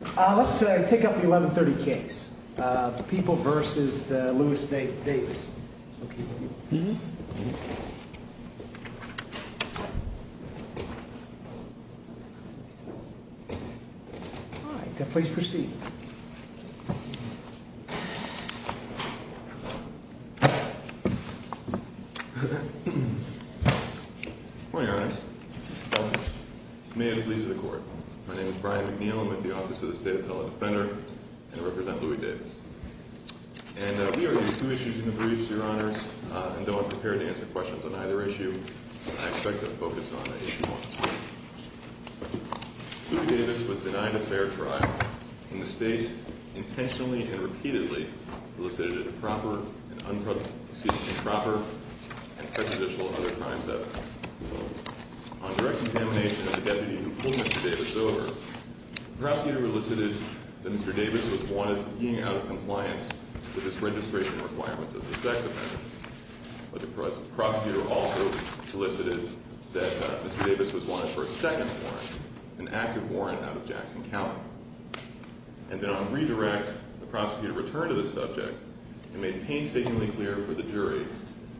Let's take up the 1130 case. People v. Lewis v. Davis. All right. Please proceed. Good morning, Your Honor. May it please the Court. My name is Brian McNeil. I'm with the Office of the State Appellate Defender, and I represent Louis Davis. And we are going to discuss two issues in the briefs, Your Honors. And though I'm prepared to answer questions on either issue, I expect to focus on Issue 1. Louis Davis was denied a fair trial, and the State intentionally and repeatedly solicited improper and prejudicial other crimes evidence. On direct examination of the deputy who pulled Mr. Davis over, the prosecutor elicited that Mr. Davis was wanted for being out of compliance with his registration requirements as a sex offender. But the prosecutor also solicited that Mr. Davis was wanted for a second warrant, an active warrant out of Jackson County. And then on redirect, the prosecutor returned to the subject and made painstakingly clear for the jury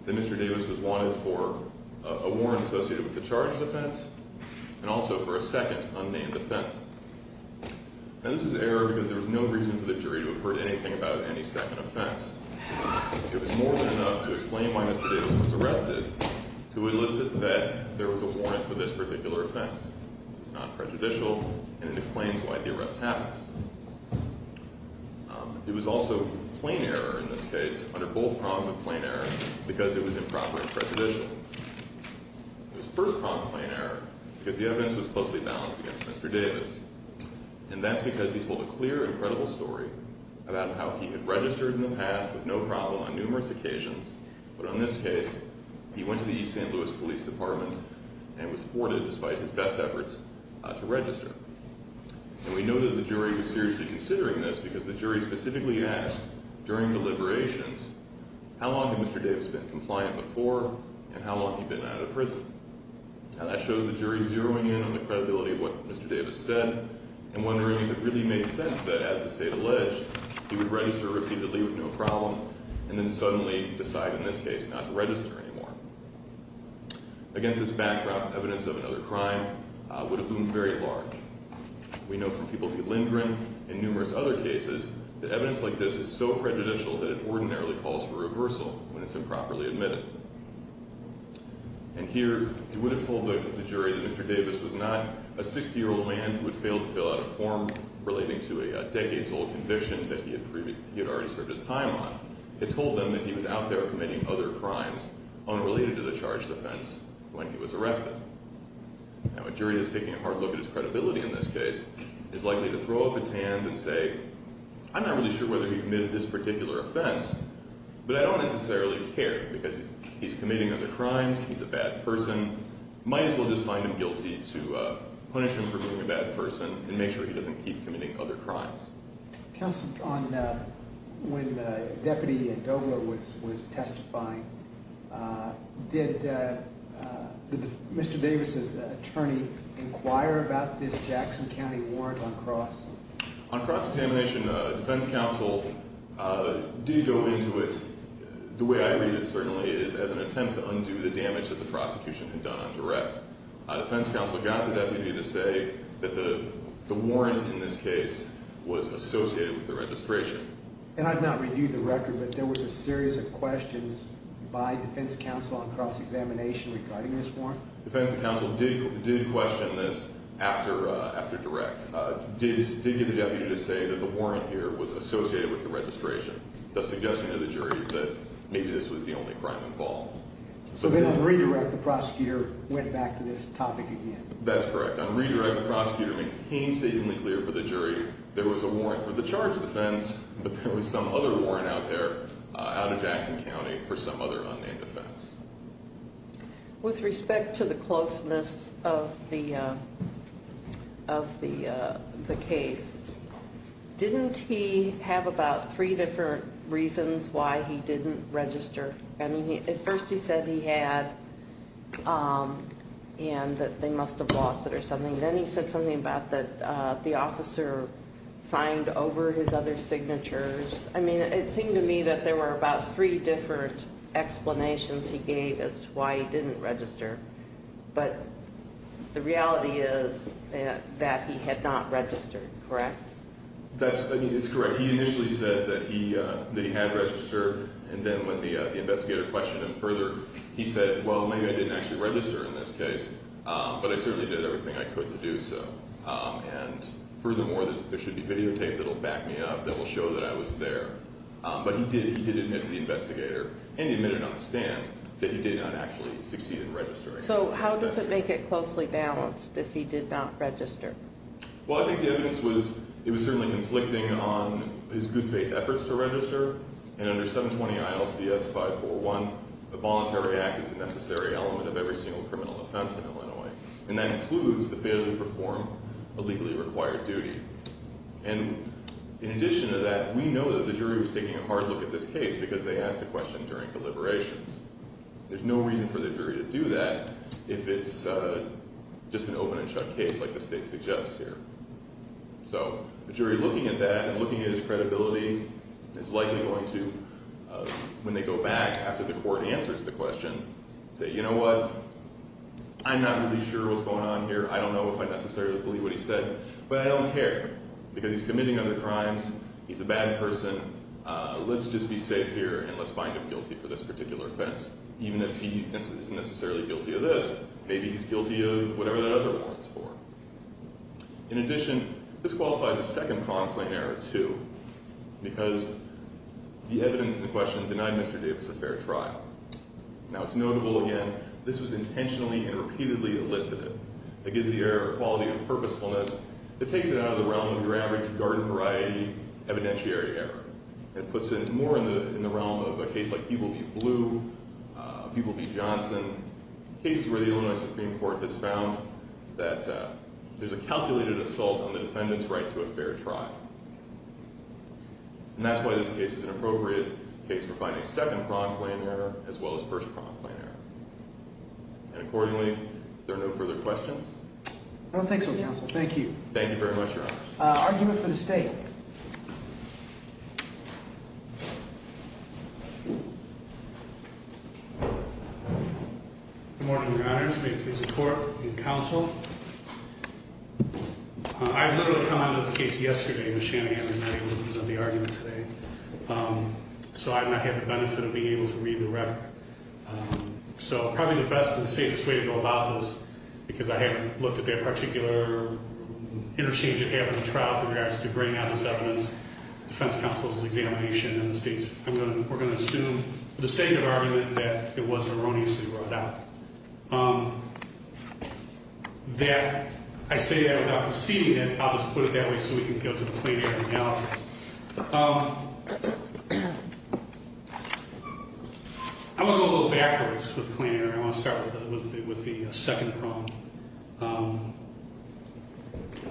that Mr. Davis was wanted for a warrant associated with the charges offense and also for a second unnamed offense. And this was error because there was no reason for the jury to have heard anything about any second offense. It was more than enough to explain why Mr. Davis was arrested to elicit that there was a warrant for this particular offense. This is not prejudicial, and it explains why the arrest happened. It was also plain error in this case, under both prongs of plain error, because it was improper and prejudicial. It was first prong of plain error because the evidence was closely balanced against Mr. Davis. And that's because he told a clear and credible story about how he had registered in the past with no problem on numerous occasions. But on this case, he went to the East St. Louis Police Department and was thwarted despite his best efforts to register. And we know that the jury was seriously considering this because the jury specifically asked, during deliberations, how long had Mr. Davis been compliant before and how long had he been out of prison? Now that shows the jury zeroing in on the credibility of what Mr. Davis said and wondering if it really made sense that, as the state alleged, he would register repeatedly with no problem and then suddenly decide, in this case, not to register anymore. Against this backdrop, evidence of another crime would have been very large. We know from people at Lindgren and numerous other cases that evidence like this is so prejudicial that it ordinarily calls for reversal when it's improperly admitted. And here, it would have told the jury that Mr. Davis was not a 60-year-old man who had failed to fill out a form relating to a decades-old conviction that he had already served his time on. It told them that he was out there committing other crimes unrelated to the charged offense when he was arrested. Now, a jury that's taking a hard look at his credibility in this case is likely to throw up its hands and say, I'm not really sure whether he committed this particular offense, but I don't necessarily care because he's committing other crimes, he's a bad person, might as well just find him guilty to punish him for being a bad person and make sure he doesn't keep committing other crimes. Counsel, when Deputy Dobler was testifying, did Mr. Davis' attorney inquire about this Jackson County warrant on cross? On cross-examination, defense counsel did go into it, the way I read it, certainly, as an attempt to undo the damage that the prosecution had done on direct. Defense counsel got the deputy to say that the warrant in this case was associated with the registration. And I've not reviewed the record, but there was a series of questions by defense counsel on cross-examination regarding this warrant? Defense counsel did question this after direct. Davis did get the deputy to say that the warrant here was associated with the registration, thus suggesting to the jury that maybe this was the only crime involved. So then on redirect, the prosecutor went back to this topic again? That's correct. On redirect, the prosecutor made painstakingly clear for the jury there was a warrant for the charge defense, but there was some other warrant out there out of Jackson County for some other unnamed offense. With respect to the closeness of the case, didn't he have about three different reasons why he didn't register? I mean, at first he said he had and that they must have lost it or something. Then he said something about that the officer signed over his other signatures. I mean, it seemed to me that there were about three different explanations he gave as to why he didn't register. But the reality is that he had not registered, correct? That's correct. He initially said that he had registered, and then when the investigator questioned him further, he said, well, maybe I didn't actually register in this case, but I certainly did everything I could to do so. And furthermore, there should be videotape that will back me up that will show that I was there. But he did admit to the investigator and he admitted on the stand that he did not actually succeed in registering. So how does it make it closely balanced if he did not register? Well, I think the evidence was it was certainly conflicting on his good faith efforts to register. And under 720 ILCS 541, the Voluntary Act is a necessary element of every single criminal offense in Illinois. And that includes the failure to perform a legally required duty. And in addition to that, we know that the jury was taking a hard look at this case because they asked the question during deliberations. There's no reason for the jury to do that if it's just an open and shut case like the state suggests here. So the jury looking at that and looking at his credibility is likely going to, when they go back after the court answers the question, say, you know what, I'm not really sure what's going on here. I don't know if I necessarily believe what he said, but I don't care because he's committing other crimes. He's a bad person. Let's just be safe here, and let's find him guilty for this particular offense. Even if he isn't necessarily guilty of this, maybe he's guilty of whatever that other one is for. In addition, this qualifies as second conflict in error, too, because the evidence in the question denied Mr. Davis a fair trial. Now, it's notable, again, this was intentionally and repeatedly elicited. It gives the error a quality of purposefulness that takes it out of the realm of your average garden variety evidentiary error and puts it more in the realm of a case like Peeble v. Blue, Peeble v. Johnson, cases where the Illinois Supreme Court has found that there's a calculated assault on the defendant's right to a fair trial. And that's why this case is an appropriate case for finding second prompt claim error as well as first prompt claim error. And accordingly, if there are no further questions. I don't think so, Counsel. Thank you. Thank you very much, Your Honor. Argument for the State. Good morning, Your Honors. May it please the Court and Counsel. I've literally come out of this case yesterday, but Shannon and I were not able to present the argument today. So I've not had the benefit of being able to read the record. So probably the best and safest way to go about this, because I haven't looked at that particular interchange at having a trial to bring out this evidence, defense counsel's examination and the State's, we're going to assume the statement argument that it was erroneously brought out. I say that without conceding it, I'll just put it that way so we can go to the plaintiff's analysis. I want to go a little backwards with claim error. I want to start with the second prompt.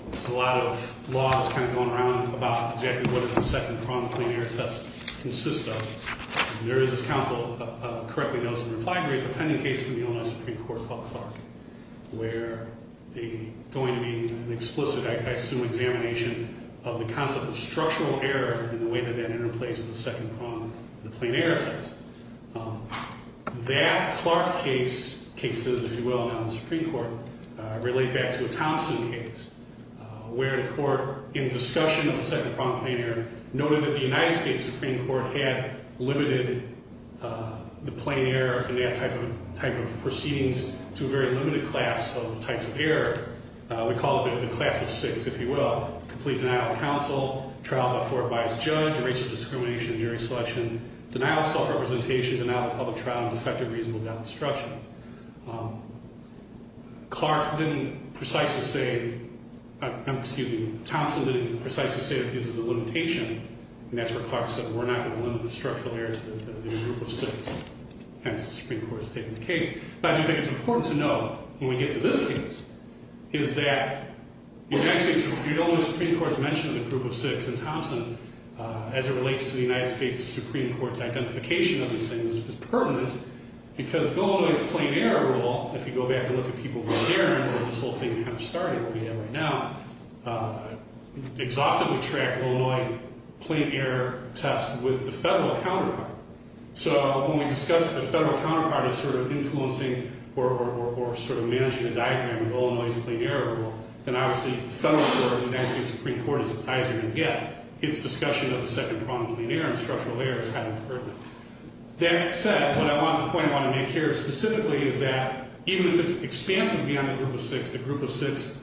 There's a lot of laws kind of going around about exactly what does the second prompt claim error test consist of. There is, as Counsel correctly notes in the reply brief, a pending case from the Illinois Supreme Court called Clark, where going to be an explicit, I assume, examination of the concept of structural error and the way that that interplays with the second prompt, the plain error test. That Clark case, cases, if you will, now in the Supreme Court, relate back to a Thompson case, where the court, in discussion of the second prompt claim error, noted that the United States Supreme Court had limited the plain error in that type of proceedings to a very limited class of types of error. We call it the class of six, if you will. Complete denial of counsel, trial to afford by its judge, erasure of discrimination in jury selection, denial of self-representation, denial of public trial, and defective reasonable deconstruction. Clark didn't precisely say, I'm excusing, Thompson didn't precisely say that this is a limitation, and that's where Clark said we're not going to limit the structural error to the group of six. Hence, the Supreme Court's taking the case. But I do think it's important to know, when we get to this case, is that the United States Supreme Court's mentioned the group of six in Thompson as it relates to the United States Supreme Court's identification of these things as pertinent, because Illinois' plain error rule, if you go back and look at people from there, and this whole thing kind of started where we are right now, exhaustively tracked Illinois' plain error test with the federal counterpart. So when we discuss the federal counterpart as sort of influencing or sort of managing the diagram of Illinois' plain error rule, then obviously the federal court, the United States Supreme Court, is as high as it can get. Its discussion of the second problem of plain error and structural error is highly pertinent. That said, what I want to point out here specifically is that, even if it's expansive beyond the group of six, the group of six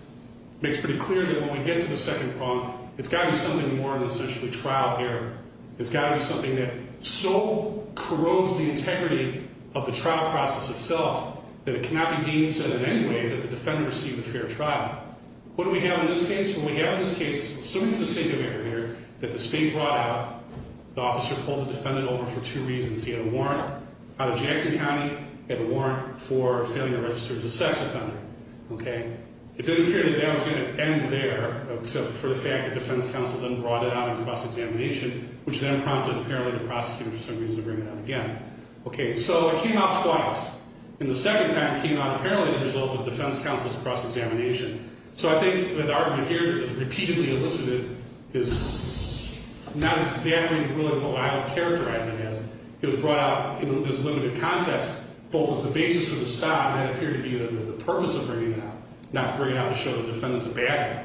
makes pretty clear that when we get to the second problem, it's got to be something more than essentially trial error. It's got to be something that so corrodes the integrity of the trial process itself that it cannot be being said in any way that the defender received a fair trial. What do we have in this case? Well, we have in this case something in the singular here that the state brought out. The officer pulled the defendant over for two reasons. He had a warrant out of Jackson County. He had a warrant for failing to register as a sex offender. Okay? It didn't appear that that was going to end there, except for the fact that defense counsel then brought it out in cross-examination, which then prompted, apparently, the prosecutor, for some reason, to bring it out again. Okay. So it came out twice. And the second time it came out, apparently, as a result of defense counsel's cross-examination. So I think the argument here that it was repeatedly elicited is not exactly really what I would characterize it as. It was brought out in this limited context, both as the basis for the stop and it appeared to be the purpose of bringing it out, not to bring it out to show the defendant's a bad guy.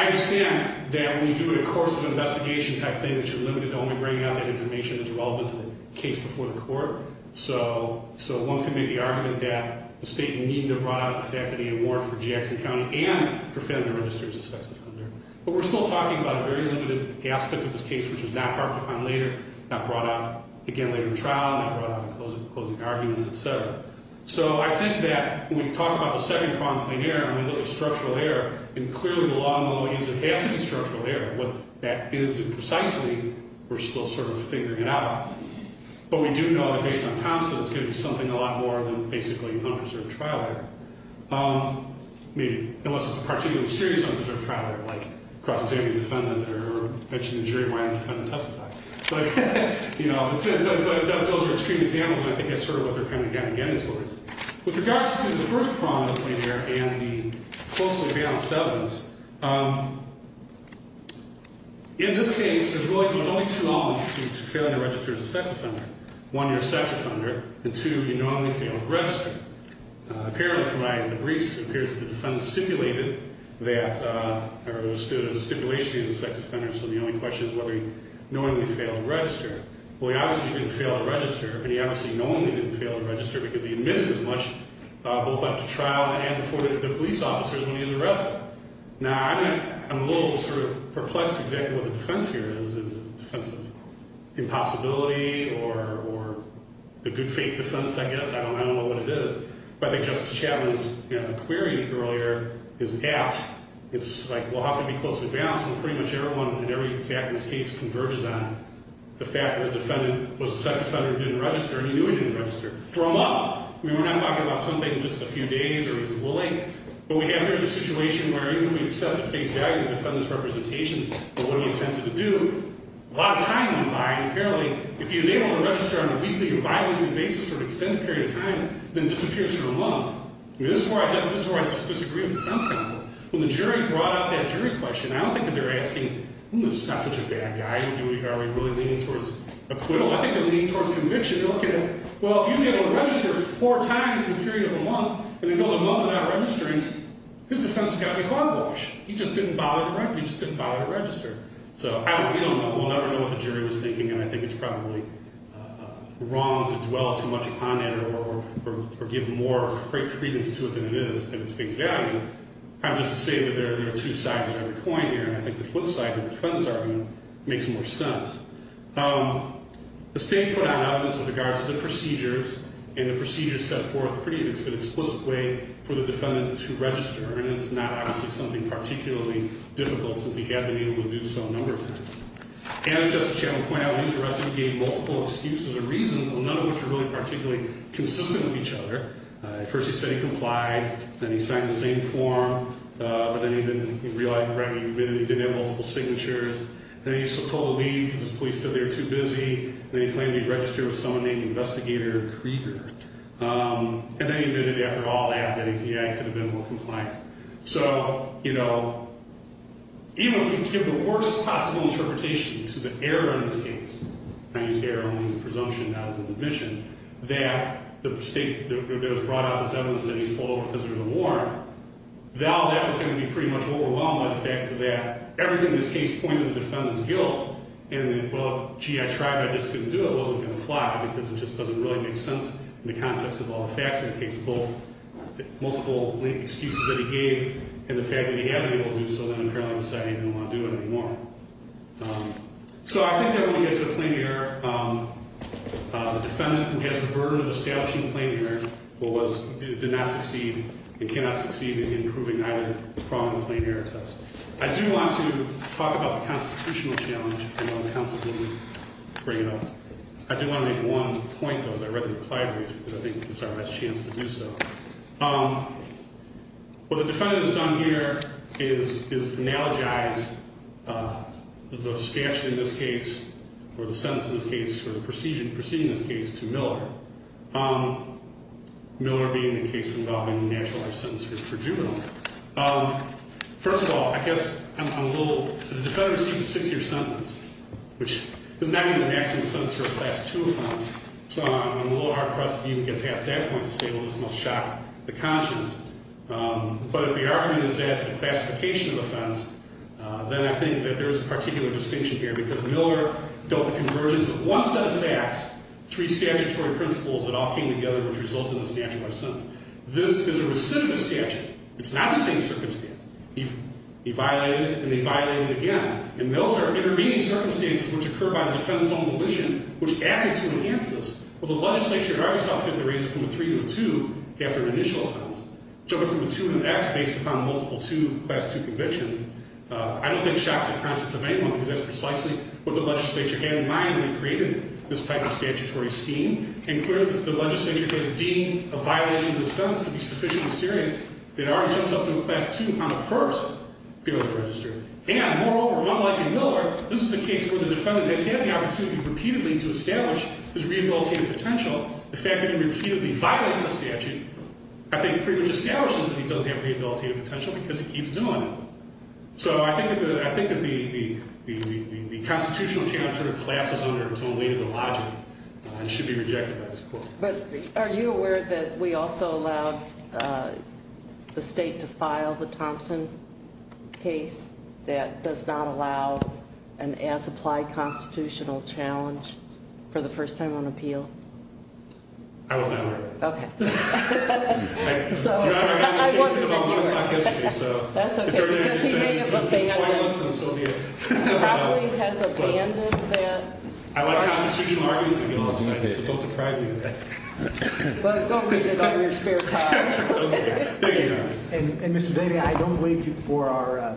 I understand that when you do a course of investigation type thing, that you're limited to only bringing out that information that's relevant to the case before the court. So one can make the argument that the state needed to have brought out the fact that he had a warrant for Jackson County and for failing to register as a sex offender. But we're still talking about a very limited aspect of this case, which is not hard to find later, not brought out, again, later in the trial, not brought out in closing arguments, et cetera. So I think that when we talk about the second problem, plain error, I mean, look at structural error. And clearly, the law no longer gives it. It has to be structural error. What that is and precisely, we're still sort of figuring it out. But we do know that based on Thompson, it's going to be something a lot more than basically an unpreserved trial error, maybe, unless it's a particularly serious unpreserved trial error, like cross-examining a defendant or mentioning the jury when a defendant testifies. But, you know, those are extreme examples, and I think that's sort of what they're kind of getting towards. With regards to the first problem, plain error, and the closely balanced evidence, in this case, there's really only two elements to failing to register as a sex offender. One, you're a sex offender. And two, you normally fail to register. Apparently, from what I have in the briefs, it appears that the defendant stipulated that or understood it as a stipulation he was a sex offender, so the only question is whether he normally failed to register. Well, he obviously didn't fail to register, and he obviously normally didn't fail to register because he admitted as much, both up to trial and before the police officers, when he was arrested. Now, I'm a little sort of perplexed exactly what the defense here is. Is it a defense of impossibility or the good faith defense, I guess? I don't know what it is. But I think Justice Chatelain's query earlier is apt. It's like, well, how can it be closely balanced when pretty much everyone in every faculty's case converges on the fact that a defendant was a sex offender who didn't register, and he knew he didn't register. For a month. I mean, we're not talking about something just a few days or he was a bully. What we have here is a situation where even if we accept at face value the defendant's representations of what he intended to do, a lot of time in mind, apparently, if he was able to register on a weekly or bi-weekly basis for an extended period of time, then disappears for a month. I mean, this is where I disagree with the defense counsel. When the jury brought up that jury question, I don't think that they're asking, hmm, this is not such a bad guy, are we really leaning towards acquittal? I think they're leaning towards conviction. They're looking at, well, if he's able to register four times in a period of a month, and it goes a month without registering, his defense has got to be clodwashed. He just didn't bother to write. He just didn't bother to register. So I don't know. We don't know. We'll never know what the jury was thinking, and I think it's probably wrong to dwell too much upon it or give more great credence to it than it is at its face value. I'm just saying that there are two sides of every coin here, and I think the flip side of the defendant's argument makes more sense. The state put out evidence with regards to the procedures, and the procedures set forth pretty explicitly for the defendant to register, and it's not, obviously, something particularly difficult since he had been able to do so a number of times. As Justice Chambliss pointed out, he was arrested and gave multiple excuses or reasons, none of which were really particularly consistent with each other. At first he said he complied, then he signed the same form, but then he didn't realize, right, he didn't have multiple signatures. Then he was told to leave because the police said they were too busy, and then he claimed he had registered with someone named Investigator Krieger. And then he envisioned, after all that, that he could have been more compliant. So, you know, even if we give the worst possible interpretation to the error in this case, and I use error only as a presumption, not as an admission, that the state has brought out this evidence that he's pulled over because there's a warrant, though that was going to be pretty much overwhelmed by the fact that everything in this case pointed to the defendant's guilt and that, well, gee, I tried, but I just couldn't do it, wasn't going to fly, because it just doesn't really make sense in the context of all the facts in the case, both the multiple excuses that he gave and the fact that he had been able to do so, then apparently decided he didn't want to do it anymore. So I think that when we get to a plain error, the defendant who has the burden of establishing a plain error did not succeed and cannot succeed in improving either the problem or the plain error test. I do want to talk about the constitutional challenge, and then the counsel can bring it up. I do want to make one point, though, as I read the reply brief, because I think this is our best chance to do so. What the defendant has done here is analogize the statute in this case, or the sentence in this case, or the proceeding in this case, to Miller, Miller being the case involving a natural life sentence for juveniles. First of all, I guess I'm a little, the defendant received a six-year sentence, which is not even a maximum sentence for a Class II offense, so I'm a little hard-pressed to even get past that point to say, well, this must shock the conscience. But if the argument is as the classification of offense, then I think that there is a particular distinction here, because Miller dealt with the convergence of one set of facts, three statutory principles that all came together, which resulted in this natural life sentence. This is a recidivist statute. It's not the same circumstance. He violated it, and he violated it again. And those are intervening circumstances which occur by the defendant's own volition, which acted to enhance this. Well, the legislature, however, saw fit to raise it from a three to a two after an initial offense. So if it's from a two to an X based upon multiple two Class II convictions, I don't think it shocks the conscience of anyone, because that's precisely what the legislature had in mind when it created this type of statutory scheme. And clearly, the legislature has deemed a violation of this sentence to be sufficiently serious that it already jumps up to a Class II on the first field of registry. And moreover, unlike in Miller, this is a case where the defendant has had the opportunity repeatedly to establish his rehabilitative potential. The fact that he repeatedly violates the statute, I think, pretty much establishes that he doesn't have rehabilitative potential, because he keeps doing it. So I think that the constitutional challenge sort of collapses under the weight of the logic and should be rejected by this court. But are you aware that we also allowed the state to file the Thompson case that does not allow an as-applied constitutional challenge for the first time on appeal? I was not aware of that. Okay. I wasn't in New York. That's okay, because he may have abandoned that. He probably has abandoned that. I like constitutional arguments, so don't deprive me of that. Well, don't read it on your spare time. There you go. And, Mr. Daley, I don't believe you for our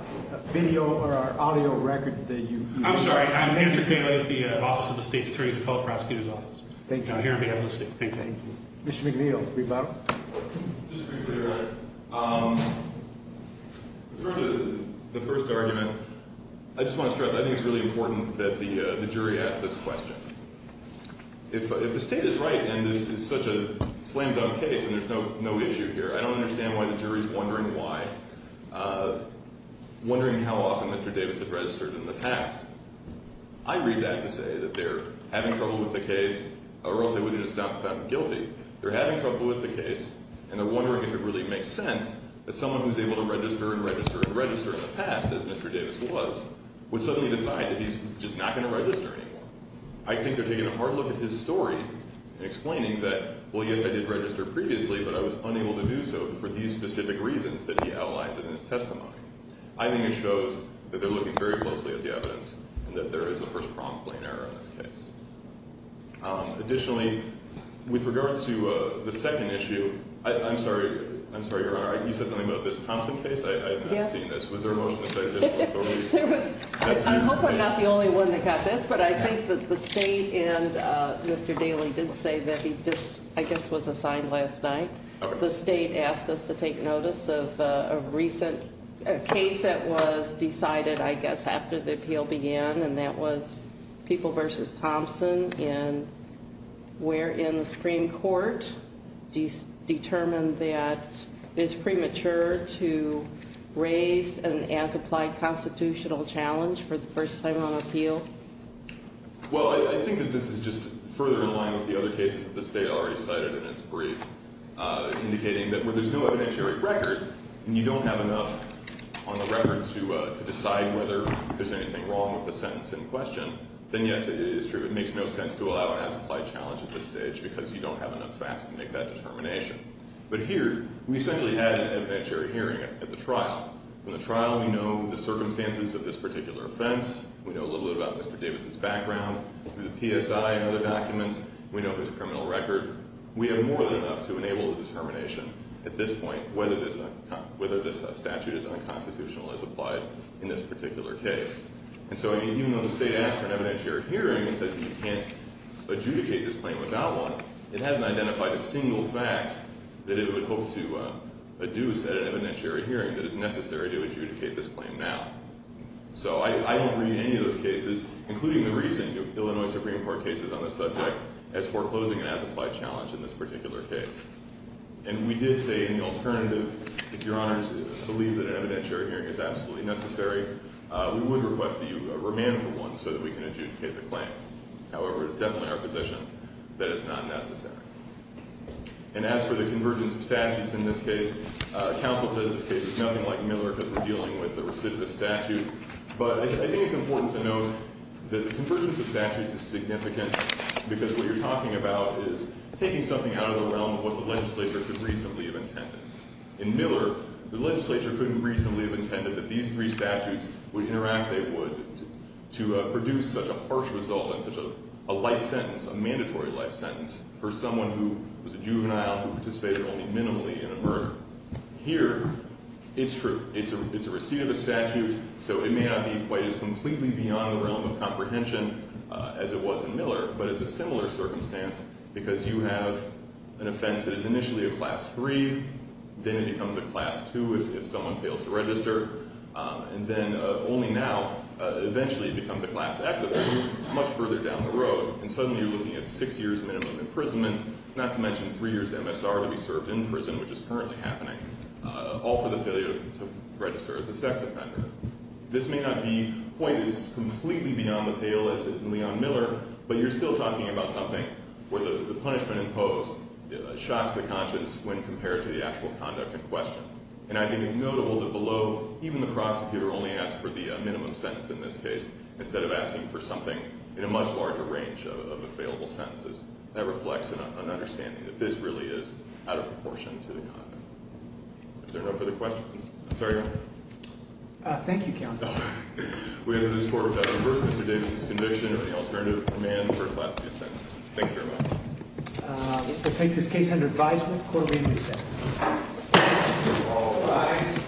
video or our audio record that you- I'm sorry. I'm Patrick Daley with the Office of the State's Attorney's Appellate Prosecutor's Office. Thank you. I'm here on behalf of the state. Thank you. Mr. McNeil, rebuttal. Just briefly, Your Honor. With regard to the first argument, I just want to stress I think it's really important that the jury ask this question. If the state is right and this is such a slam-dunk case and there's no issue here, I don't understand why the jury is wondering why, wondering how often Mr. Davis had registered in the past. I read that to say that they're having trouble with the case or else they would just sound guilty. They're having trouble with the case and they're wondering if it really makes sense that someone who's able to register and register and register in the past, as Mr. Davis was, would suddenly decide that he's just not going to register anymore. I think they're taking a hard look at his story and explaining that, well, yes, I did register previously, but I was unable to do so for these specific reasons that he outlined in his testimony. I think it shows that they're looking very closely at the evidence and that there is a first prompt blame error in this case. Additionally, with regard to the second issue, I'm sorry, Your Honor, you said something about this Thompson case? I have not seen this. Was there a motion to say that this was totally? I'm hopefully not the only one that got this, but I think that the state and Mr. Daly did say that he just, I guess, was assigned last night. The state asked us to take notice of a recent case that was decided, I guess, after the appeal began, and that was People v. Thompson, wherein the Supreme Court determined that it's premature to raise an as-applied constitutional challenge for the first time on appeal. Well, I think that this is just further in line with the other cases that the state already cited in its brief, indicating that where there's no evidentiary record and you don't have enough on the record to decide whether there's anything wrong with the sentence in question, then, yes, it is true. It makes no sense to allow an as-applied challenge at this stage because you don't have enough facts to make that determination. But here, we essentially had an evidentiary hearing at the trial. In the trial, we know the circumstances of this particular offense. We know a little bit about Mr. Davis' background through the PSI and other documents. We know his criminal record. We have more than enough to enable a determination at this point whether this statute is unconstitutional as applied in this particular case. And so, even though the state asked for an evidentiary hearing and says that you can't adjudicate this claim without one, it hasn't identified a single fact that it would hope to adduce at an evidentiary hearing that is necessary to adjudicate this claim now. So I don't read any of those cases, including the recent Illinois Supreme Court cases on this subject, as foreclosing an as-applied challenge in this particular case. And we did say in the alternative, if Your Honors believe that an evidentiary hearing is absolutely necessary, we would request that you remand for one so that we can adjudicate the claim. However, it's definitely our position that it's not necessary. And as for the convergence of statutes in this case, counsel says this case is nothing like Miller because we're dealing with a recidivist statute. But I think it's important to note that the convergence of statutes is significant because what you're talking about is taking something out of the realm of what the legislature could reasonably have intended. In Miller, the legislature couldn't reasonably have intended that these three statutes would interact, they would to produce such a harsh result and such a life sentence, a mandatory life sentence, for someone who was a juvenile who participated only minimally in a murder. Here, it's true. It's a recidivist statute, so it may not be quite as completely beyond the realm of comprehension as it was in Miller, but it's a similar circumstance because you have an offense that is initially a Class III, then it becomes a Class II if someone fails to register, and then only now, eventually it becomes a Class X if it's much further down the road. And suddenly you're looking at six years minimum imprisonment, not to mention three years MSR to be served in prison, which is currently happening, all for the failure to register as a sex offender. This may not be quite as completely beyond the pale as it is in Leon Miller, but you're still talking about something where the punishment imposed shocks the conscience when compared to the actual conduct in question. And I think it's notable that below, even the prosecutor only asked for the minimum sentence in this case instead of asking for something in a much larger range of available sentences. That reflects an understanding that this really is out of proportion to the conduct. Is there no further questions? I'm sorry, Your Honor. Thank you, Counsel. We enter this court with that as the first Mr. Davis' conviction of any alternative command for a Class II sentence. Thank you very much. We'll take this case under advisement. Court may recess. All rise.